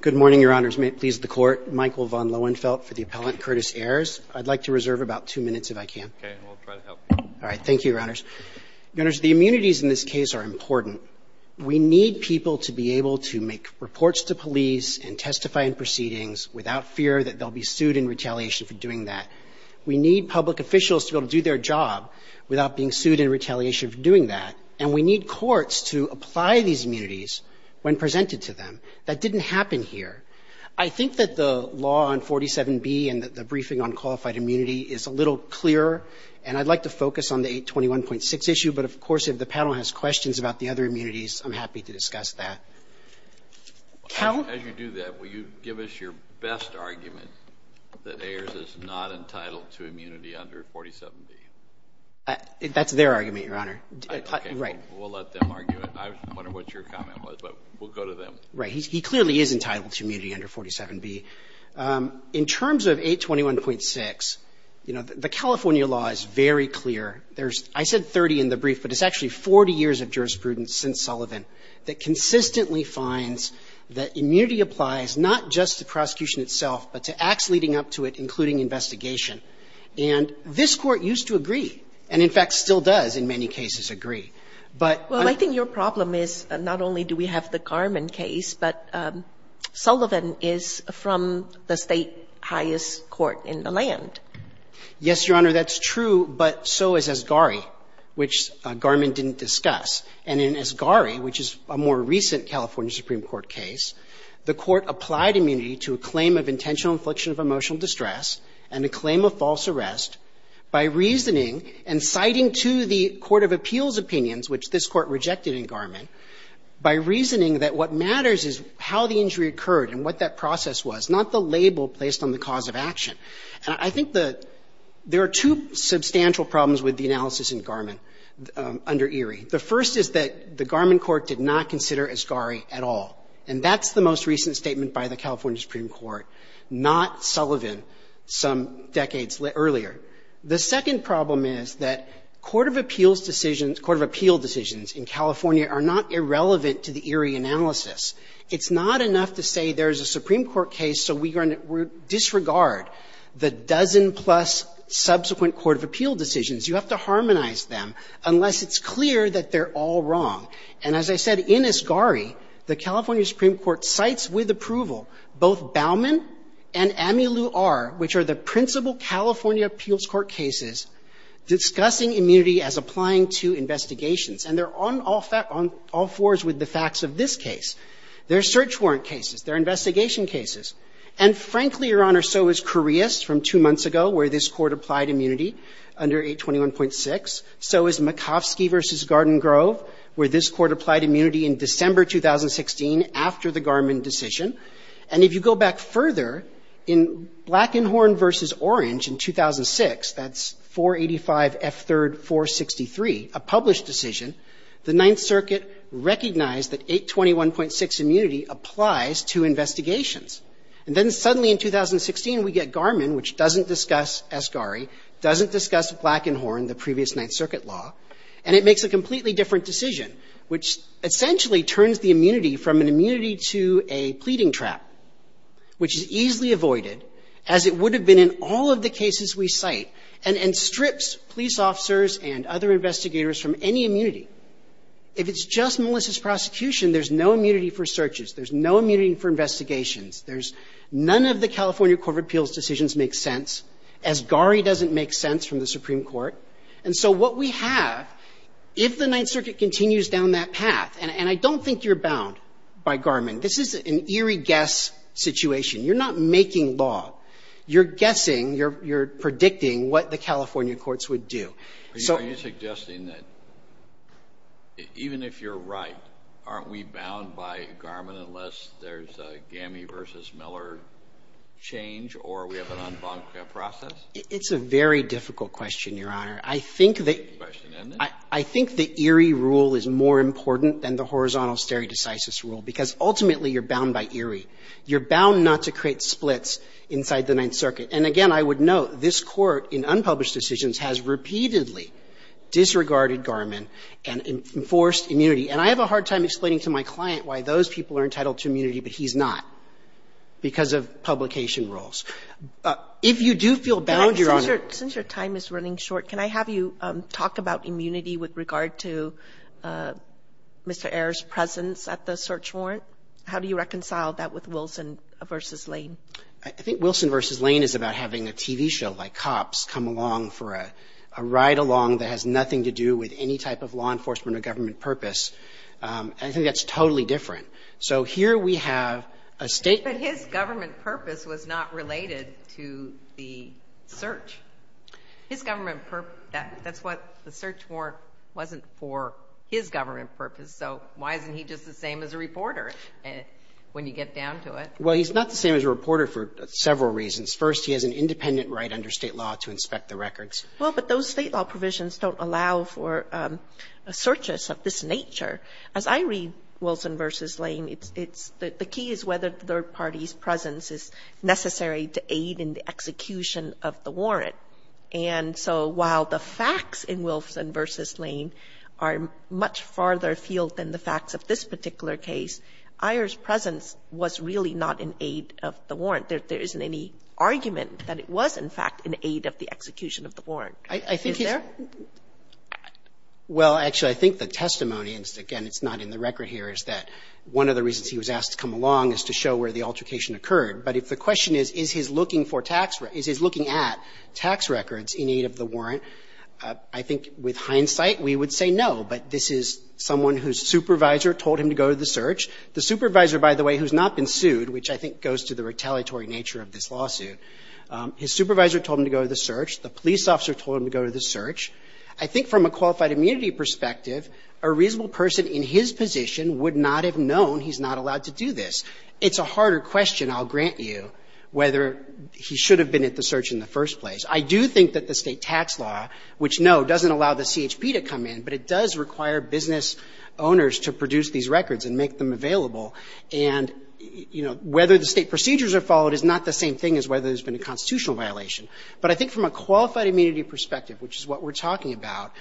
Good morning, Your Honors. May it please the Court, Michael von Lohenfeldt for the appellant, Curtis Ayers. I'd like to reserve about two minutes if I can. Okay. And we'll try to help you. All right. Thank you, Your Honors. Your Honors, the immunities in this case are important. We need people to be able to make reports to police and testify in proceedings without fear that they'll be sued in retaliation for doing that. We need public officials to be able to do their job without being sued in retaliation for doing that. And we need courts to apply these immunities when presented to them. That didn't happen here. I think that the law on 47B and the briefing on qualified immunity is a little clearer, and I'd like to focus on the 821.6 issue. But, of course, if the panel has questions about the other immunities, I'm happy to discuss that. As you do that, will you give us your best argument that Ayers is not entitled to immunity under 47B? That's their argument, Your Honor. Okay. We'll let them argue it. I wonder what your comment was, but we'll go to them. Right. He clearly is entitled to immunity under 47B. In terms of 821.6, you know, the California law is very clear. There's — I said 30 in the brief, but it's actually 40 years of jurisprudence since Sullivan that consistently finds that immunity applies not just to prosecution itself, but to acts leading up to it, including investigation. And this Court used to agree, and in fact still does in many cases. But I'm — Well, I think your problem is not only do we have the Garman case, but Sullivan is from the State highest court in the land. Yes, Your Honor, that's true, but so is Asgari, which Garman didn't discuss. And in Asgari, which is a more recent California Supreme Court case, the Court applied immunity to a claim of intentional infliction of emotional distress and a claim of false And I think there are two substantial problems with the analysis in Garman under Erie. The first is that the Garman court did not consider Asgari at all. And that's the most recent statement by the California Supreme Court, not Sullivan some decades earlier. of appeal decisions in California are not irrelevant to the Erie analysis. It's not enough to say there's a Supreme Court case, so we're going to disregard the dozen-plus subsequent court of appeal decisions. You have to harmonize them unless it's clear that they're all wrong. And as I said, in Asgari, the California Supreme Court cites with approval both Bauman and Amilu R., which are the principal California appeals court cases, discussing immunity as applying to investigations. And they're on all fours with the facts of this case. They're search warrant cases. They're investigation cases. And frankly, Your Honor, so is Correus from two months ago, where this Court applied immunity under 821.6. So is Makovsky v. Garden Grove, where this Court applied immunity in December 2016 after the Garman decision. And if you go back further, in Blackenhorn v. Orange in 2006, that's 485F3rd 463, a published decision, the Ninth Circuit recognized that 821.6 immunity applies to investigations. And then suddenly in 2016, we get Garman, which doesn't discuss Asgari, doesn't discuss Blackenhorn, the previous Ninth Circuit law, and it makes a completely different decision, which essentially turns the immunity from an immunity to a pleading trap, which is easily avoided, as it would have been in all of the cases we cite, and strips police officers and other investigators from any immunity. If it's just Melissa's prosecution, there's no immunity for searches. There's no immunity for investigations. There's none of the California Court of Appeals' decisions make sense, Asgari doesn't make sense from the Supreme Court. And so what we have, if the Ninth Circuit continues down that path, and I don't think you're bound by Garman. This is an eerie guess situation. You're not making law. You're guessing, you're predicting what the California courts would do. So you're suggesting that even if you're right, aren't we bound by Garman unless there's a Gammey v. Miller change or we have an en banc process? It's a very difficult question, Your Honor. I think that the eerie rule is more important than the horizontal stare decisis rule, because ultimately you're bound by eerie. You're bound not to create splits inside the Ninth Circuit. And again, I would note, this Court in unpublished decisions has repeatedly disregarded Garman and enforced immunity. And I have a hard time explaining to my client why those people are entitled to immunity, but he's not, because of publication rules. If you do feel bound, Your Honor ---- Sotomayor, since your time is running short, can I have you talk about immunity with regard to Mr. Ayer's presence at the search warrant? How do you reconcile that with Wilson v. Lane? I think Wilson v. Lane is about having a TV show like Cops come along for a ride-along that has nothing to do with any type of law enforcement or government purpose. I think that's totally different. So here we have a state ---- But his government purpose was not related to the search. His government purpose ---- that's what the search warrant wasn't for his government purpose, so why isn't he just the same as a reporter? And when you get down to it ---- Well, he's not the same as a reporter for several reasons. First, he has an independent right under State law to inspect the records. Well, but those State law provisions don't allow for searches of this nature. As I read Wilson v. Lane, it's the key is whether the third party's presence is necessary to aid in the execution of the warrant. And so while the facts in Wilson v. Lane are much farther afield than the facts of this particular case, Ayer's presence was really not an aid of the warrant. There isn't any argument that it was, in fact, an aid of the execution of the warrant. Is there? Well, actually, I think the testimony, and again, it's not in the record here, is that one of the reasons he was asked to come along is to show where the altercation occurred. But if the question is, is his looking for tax ---- is his looking at tax records in aid of the warrant, I think with hindsight we would say no. But this is someone whose supervisor told him to go to the search. The supervisor, by the way, who's not been sued, which I think goes to the retaliatory nature of this lawsuit, his supervisor told him to go to the search. The police officer told him to go to the search. I think from a qualified immunity perspective, a reasonable person in his position would not have known he's not allowed to do this. It's a harder question, I'll grant you, whether he should have been at the search in the first place. I do think that the State tax law, which, no, doesn't allow the CHP to come in, but it does require business owners to produce these records and make them available. And, you know, whether the State procedures are followed is not the same thing as whether there's been a constitutional violation. But I think from a qualified immunity perspective, which is what we're talking about,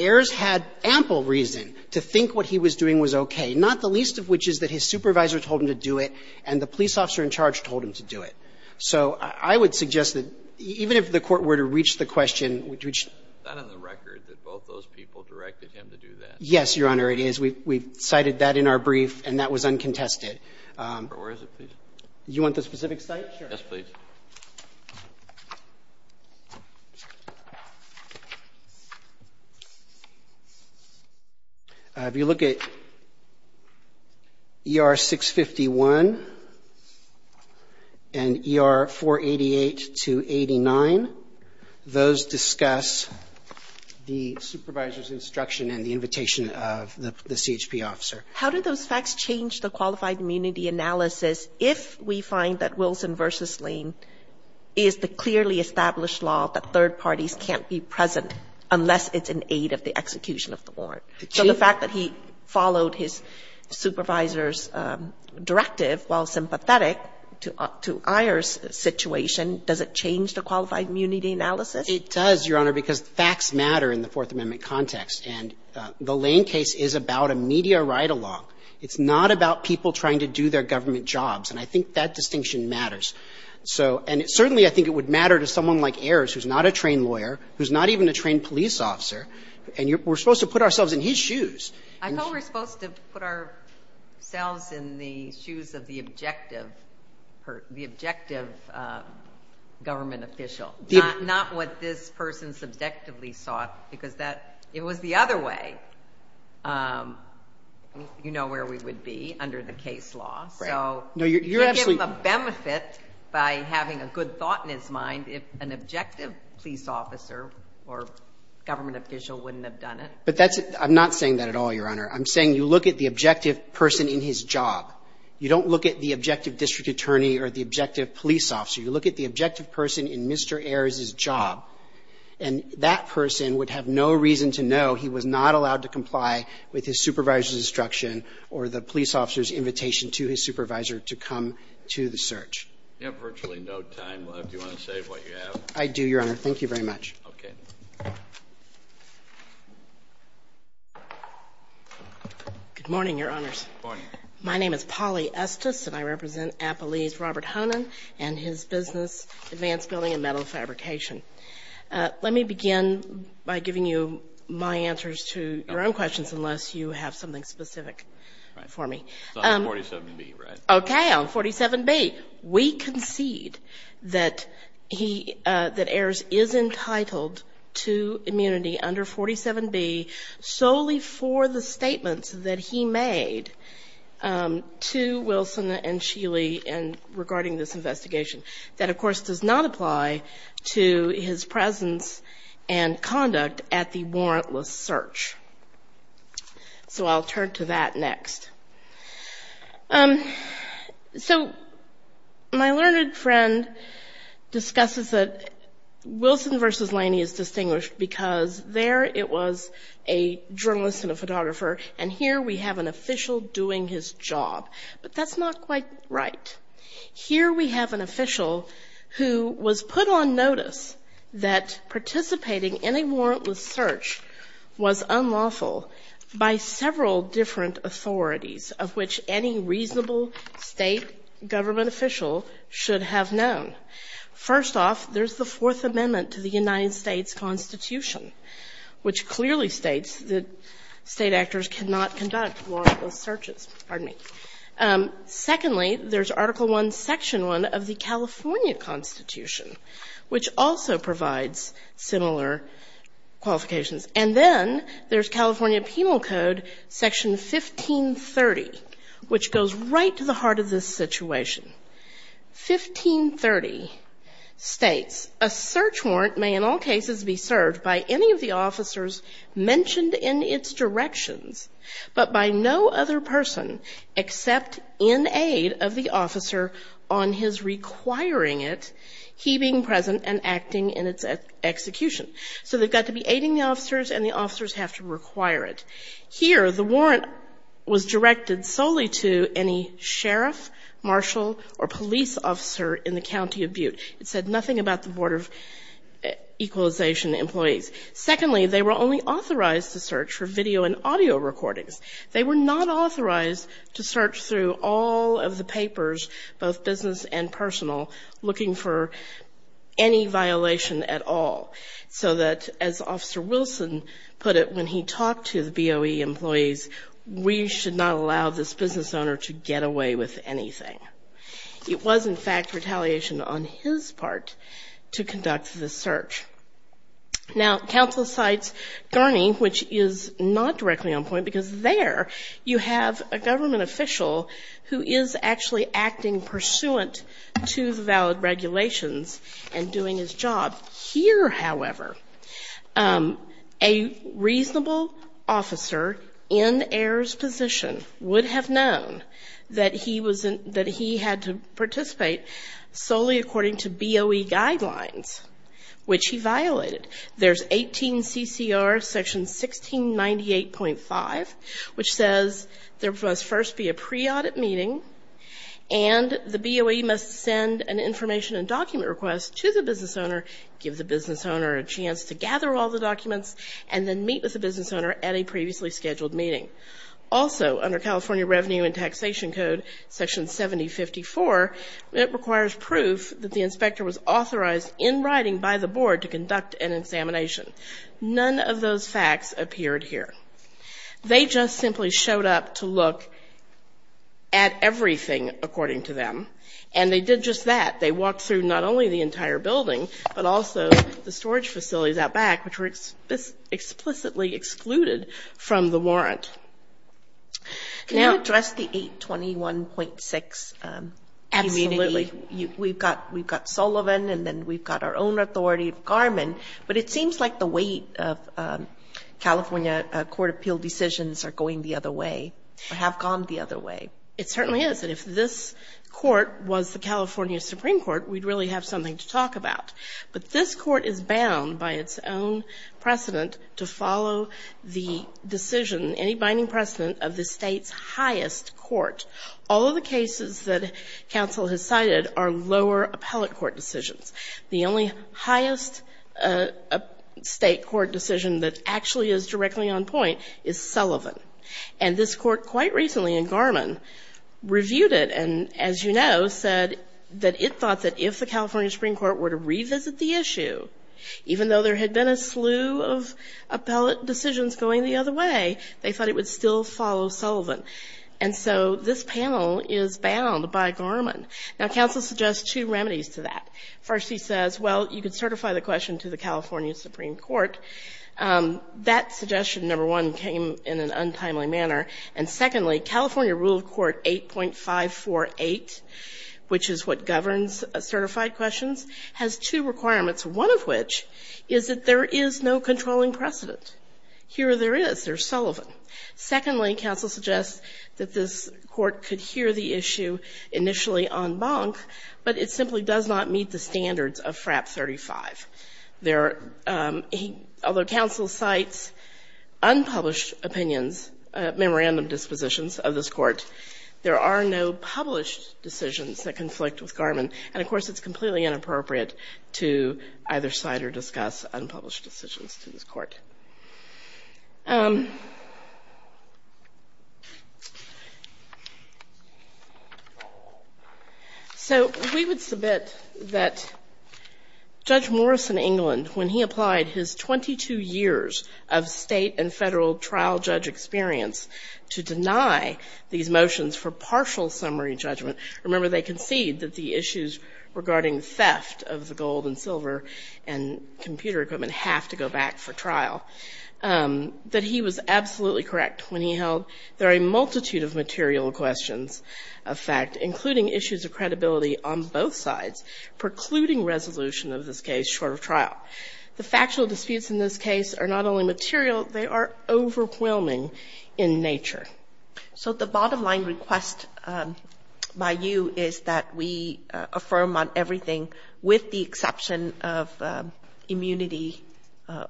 Ayers had ample reason to think what he was doing was okay, not the least of which is that his supervisor told him to do it and the police officer in charge told him to do it. So I would suggest that even if the Court were to reach the question, which ---- Go ahead. Go ahead. Go ahead. Go ahead. Go ahead. You're not saying that the court directed him to do that? Yes, Your Honor, it is. We cited that in our brief and that was uncontested. Where is it? Please. You want the specific site? Sure. Yes, please. If you look at ER 651 and ER 488-89, those discuss the supervisor's instruction and the invitation of the CHP officer. How do those facts change the qualified immunity analysis if we find that Wilson v. Lane is the clearly established law that third parties can't be present unless it's an aid of the execution of the warrant? So the fact that he followed his supervisor's directive while sympathetic to Iyer's situation, does it change the qualified immunity analysis? It does, Your Honor, because facts matter in the Fourth Amendment context. And the Lane case is about a media ride-along. It's not about people trying to do their government jobs. And I think that distinction matters. So, and certainly I think it would matter to someone like Ayers, who's not a trained lawyer, who's not even a trained police officer, and we're supposed to put ourselves in his shoes. I thought we're supposed to put ourselves in the shoes of the objective, the objective government official, not what this person subjectively sought, because that it was the other way, you know, where we would be under the case law. So you can't give him a benefit by having a good thought in his mind if an objective police officer or government official wouldn't have done it. But that's – I'm not saying that at all, Your Honor. I'm saying you look at the objective person in his job. You don't look at the objective district attorney or the objective police officer. You look at the objective person in Mr. Ayers's job. And that person would have no reason to know he was not allowed to comply with his supervisor's instruction or the police officer's invitation to his supervisor to come to the search. You have virtually no time left. Do you want to say what you have? I do, Your Honor. Thank you very much. Okay. Good morning, Your Honors. Good morning. My name is Polly Estes, and I represent Appalee's Robert Honan and his business, advanced building and metal fabrication. Let me begin by giving you my answers to your own questions, unless you have something specific for me. It's on 47B, right? Okay. On 47B, we concede that he – that Ayers is entitled to immunity under 47B solely for the statements that he made to Wilson and Sheely regarding this investigation. That, of course, does not apply to his presence and conduct at the warrantless search. So I'll turn to that next. So my learned friend discusses that Wilson versus Laney is distinguished because there it was a journalist and a photographer, and here we have an official doing his job. But that's not quite right. Here we have an official who was put on notice that participating in a warrantless search was unlawful by several different authorities of which any reasonable state government official should have known. First off, there's the Fourth Amendment to the United States Constitution, which clearly states that state actors cannot conduct warrantless searches. Pardon me. Secondly, there's Article I, Section I of the California Constitution, which also provides similar qualifications. And then there's California Penal Code, Section 1530, which goes right to the heart of this situation. 1530 states, a search warrant may in all cases be served by any of the officers mentioned in its directions, but by no other person except in aid of the officer on his requiring it, he being present and acting in its execution. So they've got to be aiding the officers and the officers have to require it. Here, the warrant was directed solely to any sheriff, marshal, or police officer in the county of Butte. It said nothing about the Board of Equalization employees. Secondly, they were only authorized to search for video and audio recordings. They were not authorized to search through all of the papers, both business and personal, looking for any violation at all. So that, as Officer Wilson put it when he talked to the BOE employees, we should not allow this business owner to get away with anything. It was, in fact, retaliation on his part to conduct the search. Now, counsel cites Garney, which is not directly on point, because there you have a government official who is actually acting pursuant to the valid regulations and doing his job. Here, however, a reasonable officer in Ayer's position would have known that he had to participate solely according to BOE guidelines, which he violated. There's 18 CCR section 1698.5, which says there must first be a pre-audit meeting and the BOE must send an information and document request to the business owner, give the business owner a chance to gather all the documents, and then meet with the business owner at a previously scheduled meeting. Also, under California Revenue and Taxation Code section 7054, it requires proof that the inspector was authorized in writing by the board to conduct an examination. None of those facts appeared here. They just simply showed up to look at everything, according to them, and they did just that. They walked through not only the entire building, but also the storage facilities out back, which were explicitly excluded from the warrant. Now address the 821.6 immediately. Absolutely. We've got Sullivan, and then we've got our own authority of Garmin, but it seems like the weight of California court appeal decisions are going the other way, or have gone the other way. It certainly is, and if this court was the California Supreme Court, we'd really have something to talk about. But this court is bound by its own precedent to follow the decision, any binding precedent, of the state's highest court. All of the cases that counsel has cited are lower appellate court decisions. The only highest state court decision that actually is directly on point is Sullivan. And this court, quite recently in Garmin, reviewed it and, as you know, said that it thought if the California Supreme Court were to revisit the issue, even though there had been a slew of appellate decisions going the other way, they thought it would still follow Sullivan. And so this panel is bound by Garmin. Now counsel suggests two remedies to that. First, he says, well, you could certify the question to the California Supreme Court. That suggestion, number one, came in an untimely manner. And secondly, California Rule of Court 8.548, which is what governs certified questions, has two requirements, one of which is that there is no controlling precedent. Here there is. There's Sullivan. Secondly, counsel suggests that this court could hear the issue initially en banc, but it simply does not meet the standards of FRAP 35. There are, although counsel cites unpublished opinions, memorandum dispositions of this court, there are no published decisions that conflict with Garmin. And, of course, it's completely inappropriate to either cite or discuss unpublished decisions to this court. In his case in England, when he applied his 22 years of state and federal trial judge experience to deny these motions for partial summary judgment, remember they concede that the issues regarding theft of the gold and silver and computer equipment have to go back for trial, that he was absolutely correct when he held there are a multitude of material questions of fact, including issues of credibility on both sides, precluding resolution of this case short of trial. The factual disputes in this case are not only material, they are overwhelming in nature. So the bottom line request by you is that we affirm on everything with the exception of immunity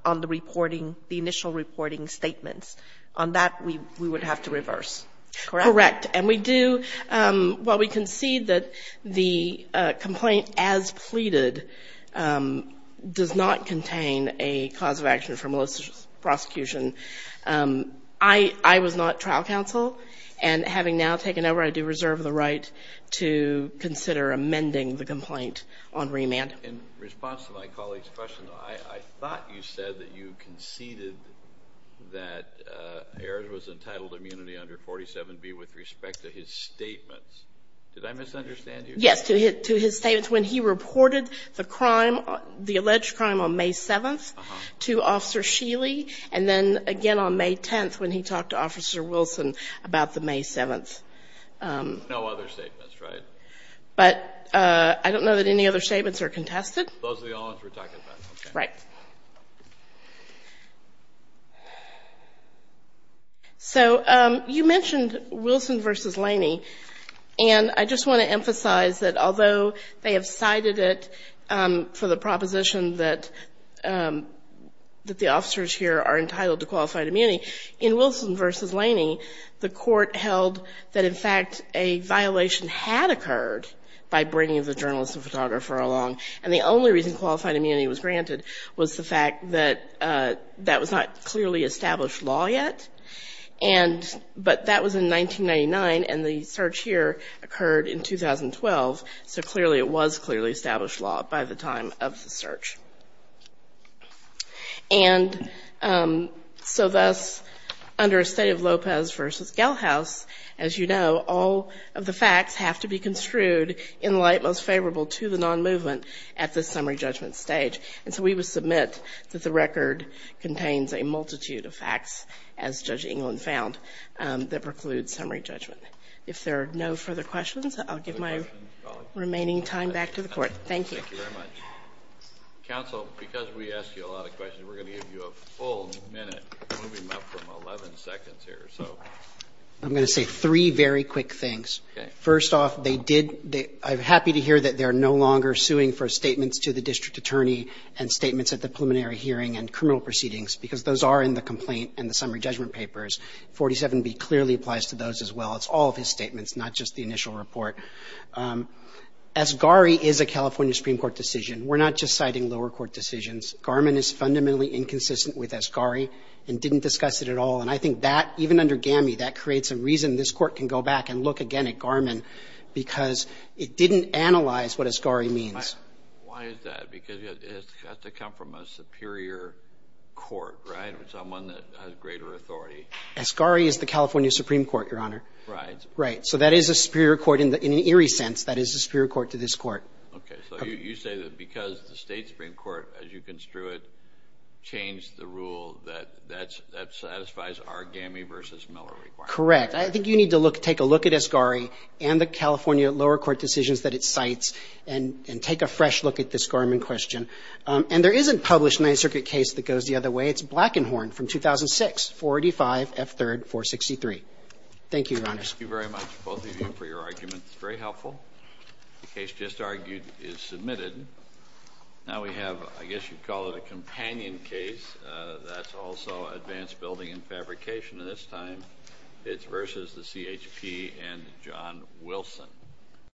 on the reporting, the initial reporting statements. On that, we would have to reverse. Correct. Correct. And we do, while we concede that the complaint as pleaded does not contain a cause of action for malicious prosecution, I was not trial counsel. And having now taken over, I do reserve the right to consider amending the complaint on remand. In response to my colleague's question, I thought you said that you conceded that Ayers was entitled to immunity under 47B with respect to his statements. Did I misunderstand you? Yes, to his statements when he reported the crime, the alleged crime on May 7th to Officer Sheely, and then again on May 10th when he talked to Officer Wilson about the May 7th. No other statements, right? But I don't know that any other statements are contested. Those are the only ones we're talking about. Right. So you mentioned Wilson v. Laney, and I just want to emphasize that although they have cited it for the proposition that the officers here are entitled to qualified immunity, in Wilson v. Laney, the court held that, in fact, a violation had occurred by bringing the journalist and photographer along, and the only reason qualified immunity was granted was the fact that that was not clearly established law yet, but that was in 1999, and the search here occurred in 2012, so clearly it was clearly established law by the time of the search. And so thus, under a study of Lopez v. Gelhaus, as you know, all of the facts have to be construed in light most favorable to the non-movement at the summary judgment stage, and so we would submit that the record contains a multitude of facts, as Judge England found, that preclude summary judgment. If there are no further questions, I'll give my remaining time back to the court. Thank you. Thank you very much. Counsel, because we ask you a lot of questions, we're going to give you a full minute, moving up from 11 seconds here, so. I'm going to say three very quick things. First off, they did, I'm happy to hear that they're no longer suing for statements to the district attorney and statements at the preliminary hearing and criminal proceedings, because those are in the complaint and the summary judgment papers. 47B clearly applies to those as well. It's all of his statements, not just the initial report. As GARI is a California Supreme Court decision. We're not just citing lower court decisions. Garmin is fundamentally inconsistent with as GARI and didn't discuss it at all, and I think that, even under GAMI, that creates a reason this court can go back and look again at Garmin, because it didn't analyze what as GARI means. Why is that? Because it has to come from a superior court, right? Or someone that has greater authority. As GARI is the California Supreme Court, Your Honor. Right. Right, so that is a superior court in an eerie sense. That is a superior court to this court. Okay, so you say that because the state Supreme Court, as you construe it, changed the rule that satisfies our GAMI versus Miller requirement. Correct. I think you need to look at, take a look at as GARI and the California lower court decisions that it cites and take a fresh look at this Garmin question. And there is a published Ninth Circuit case that goes the other way. It's Black and Horn from 2006, 485 F. 3rd 463. Thank you, Your Honor. Thank you very much, both of you, for your arguments. It's very helpful. The case just argued is submitted. Now we have, I guess you'd call it a companion case. That's also advanced building and fabrication at this time. It's versus the CHP and John Wilson.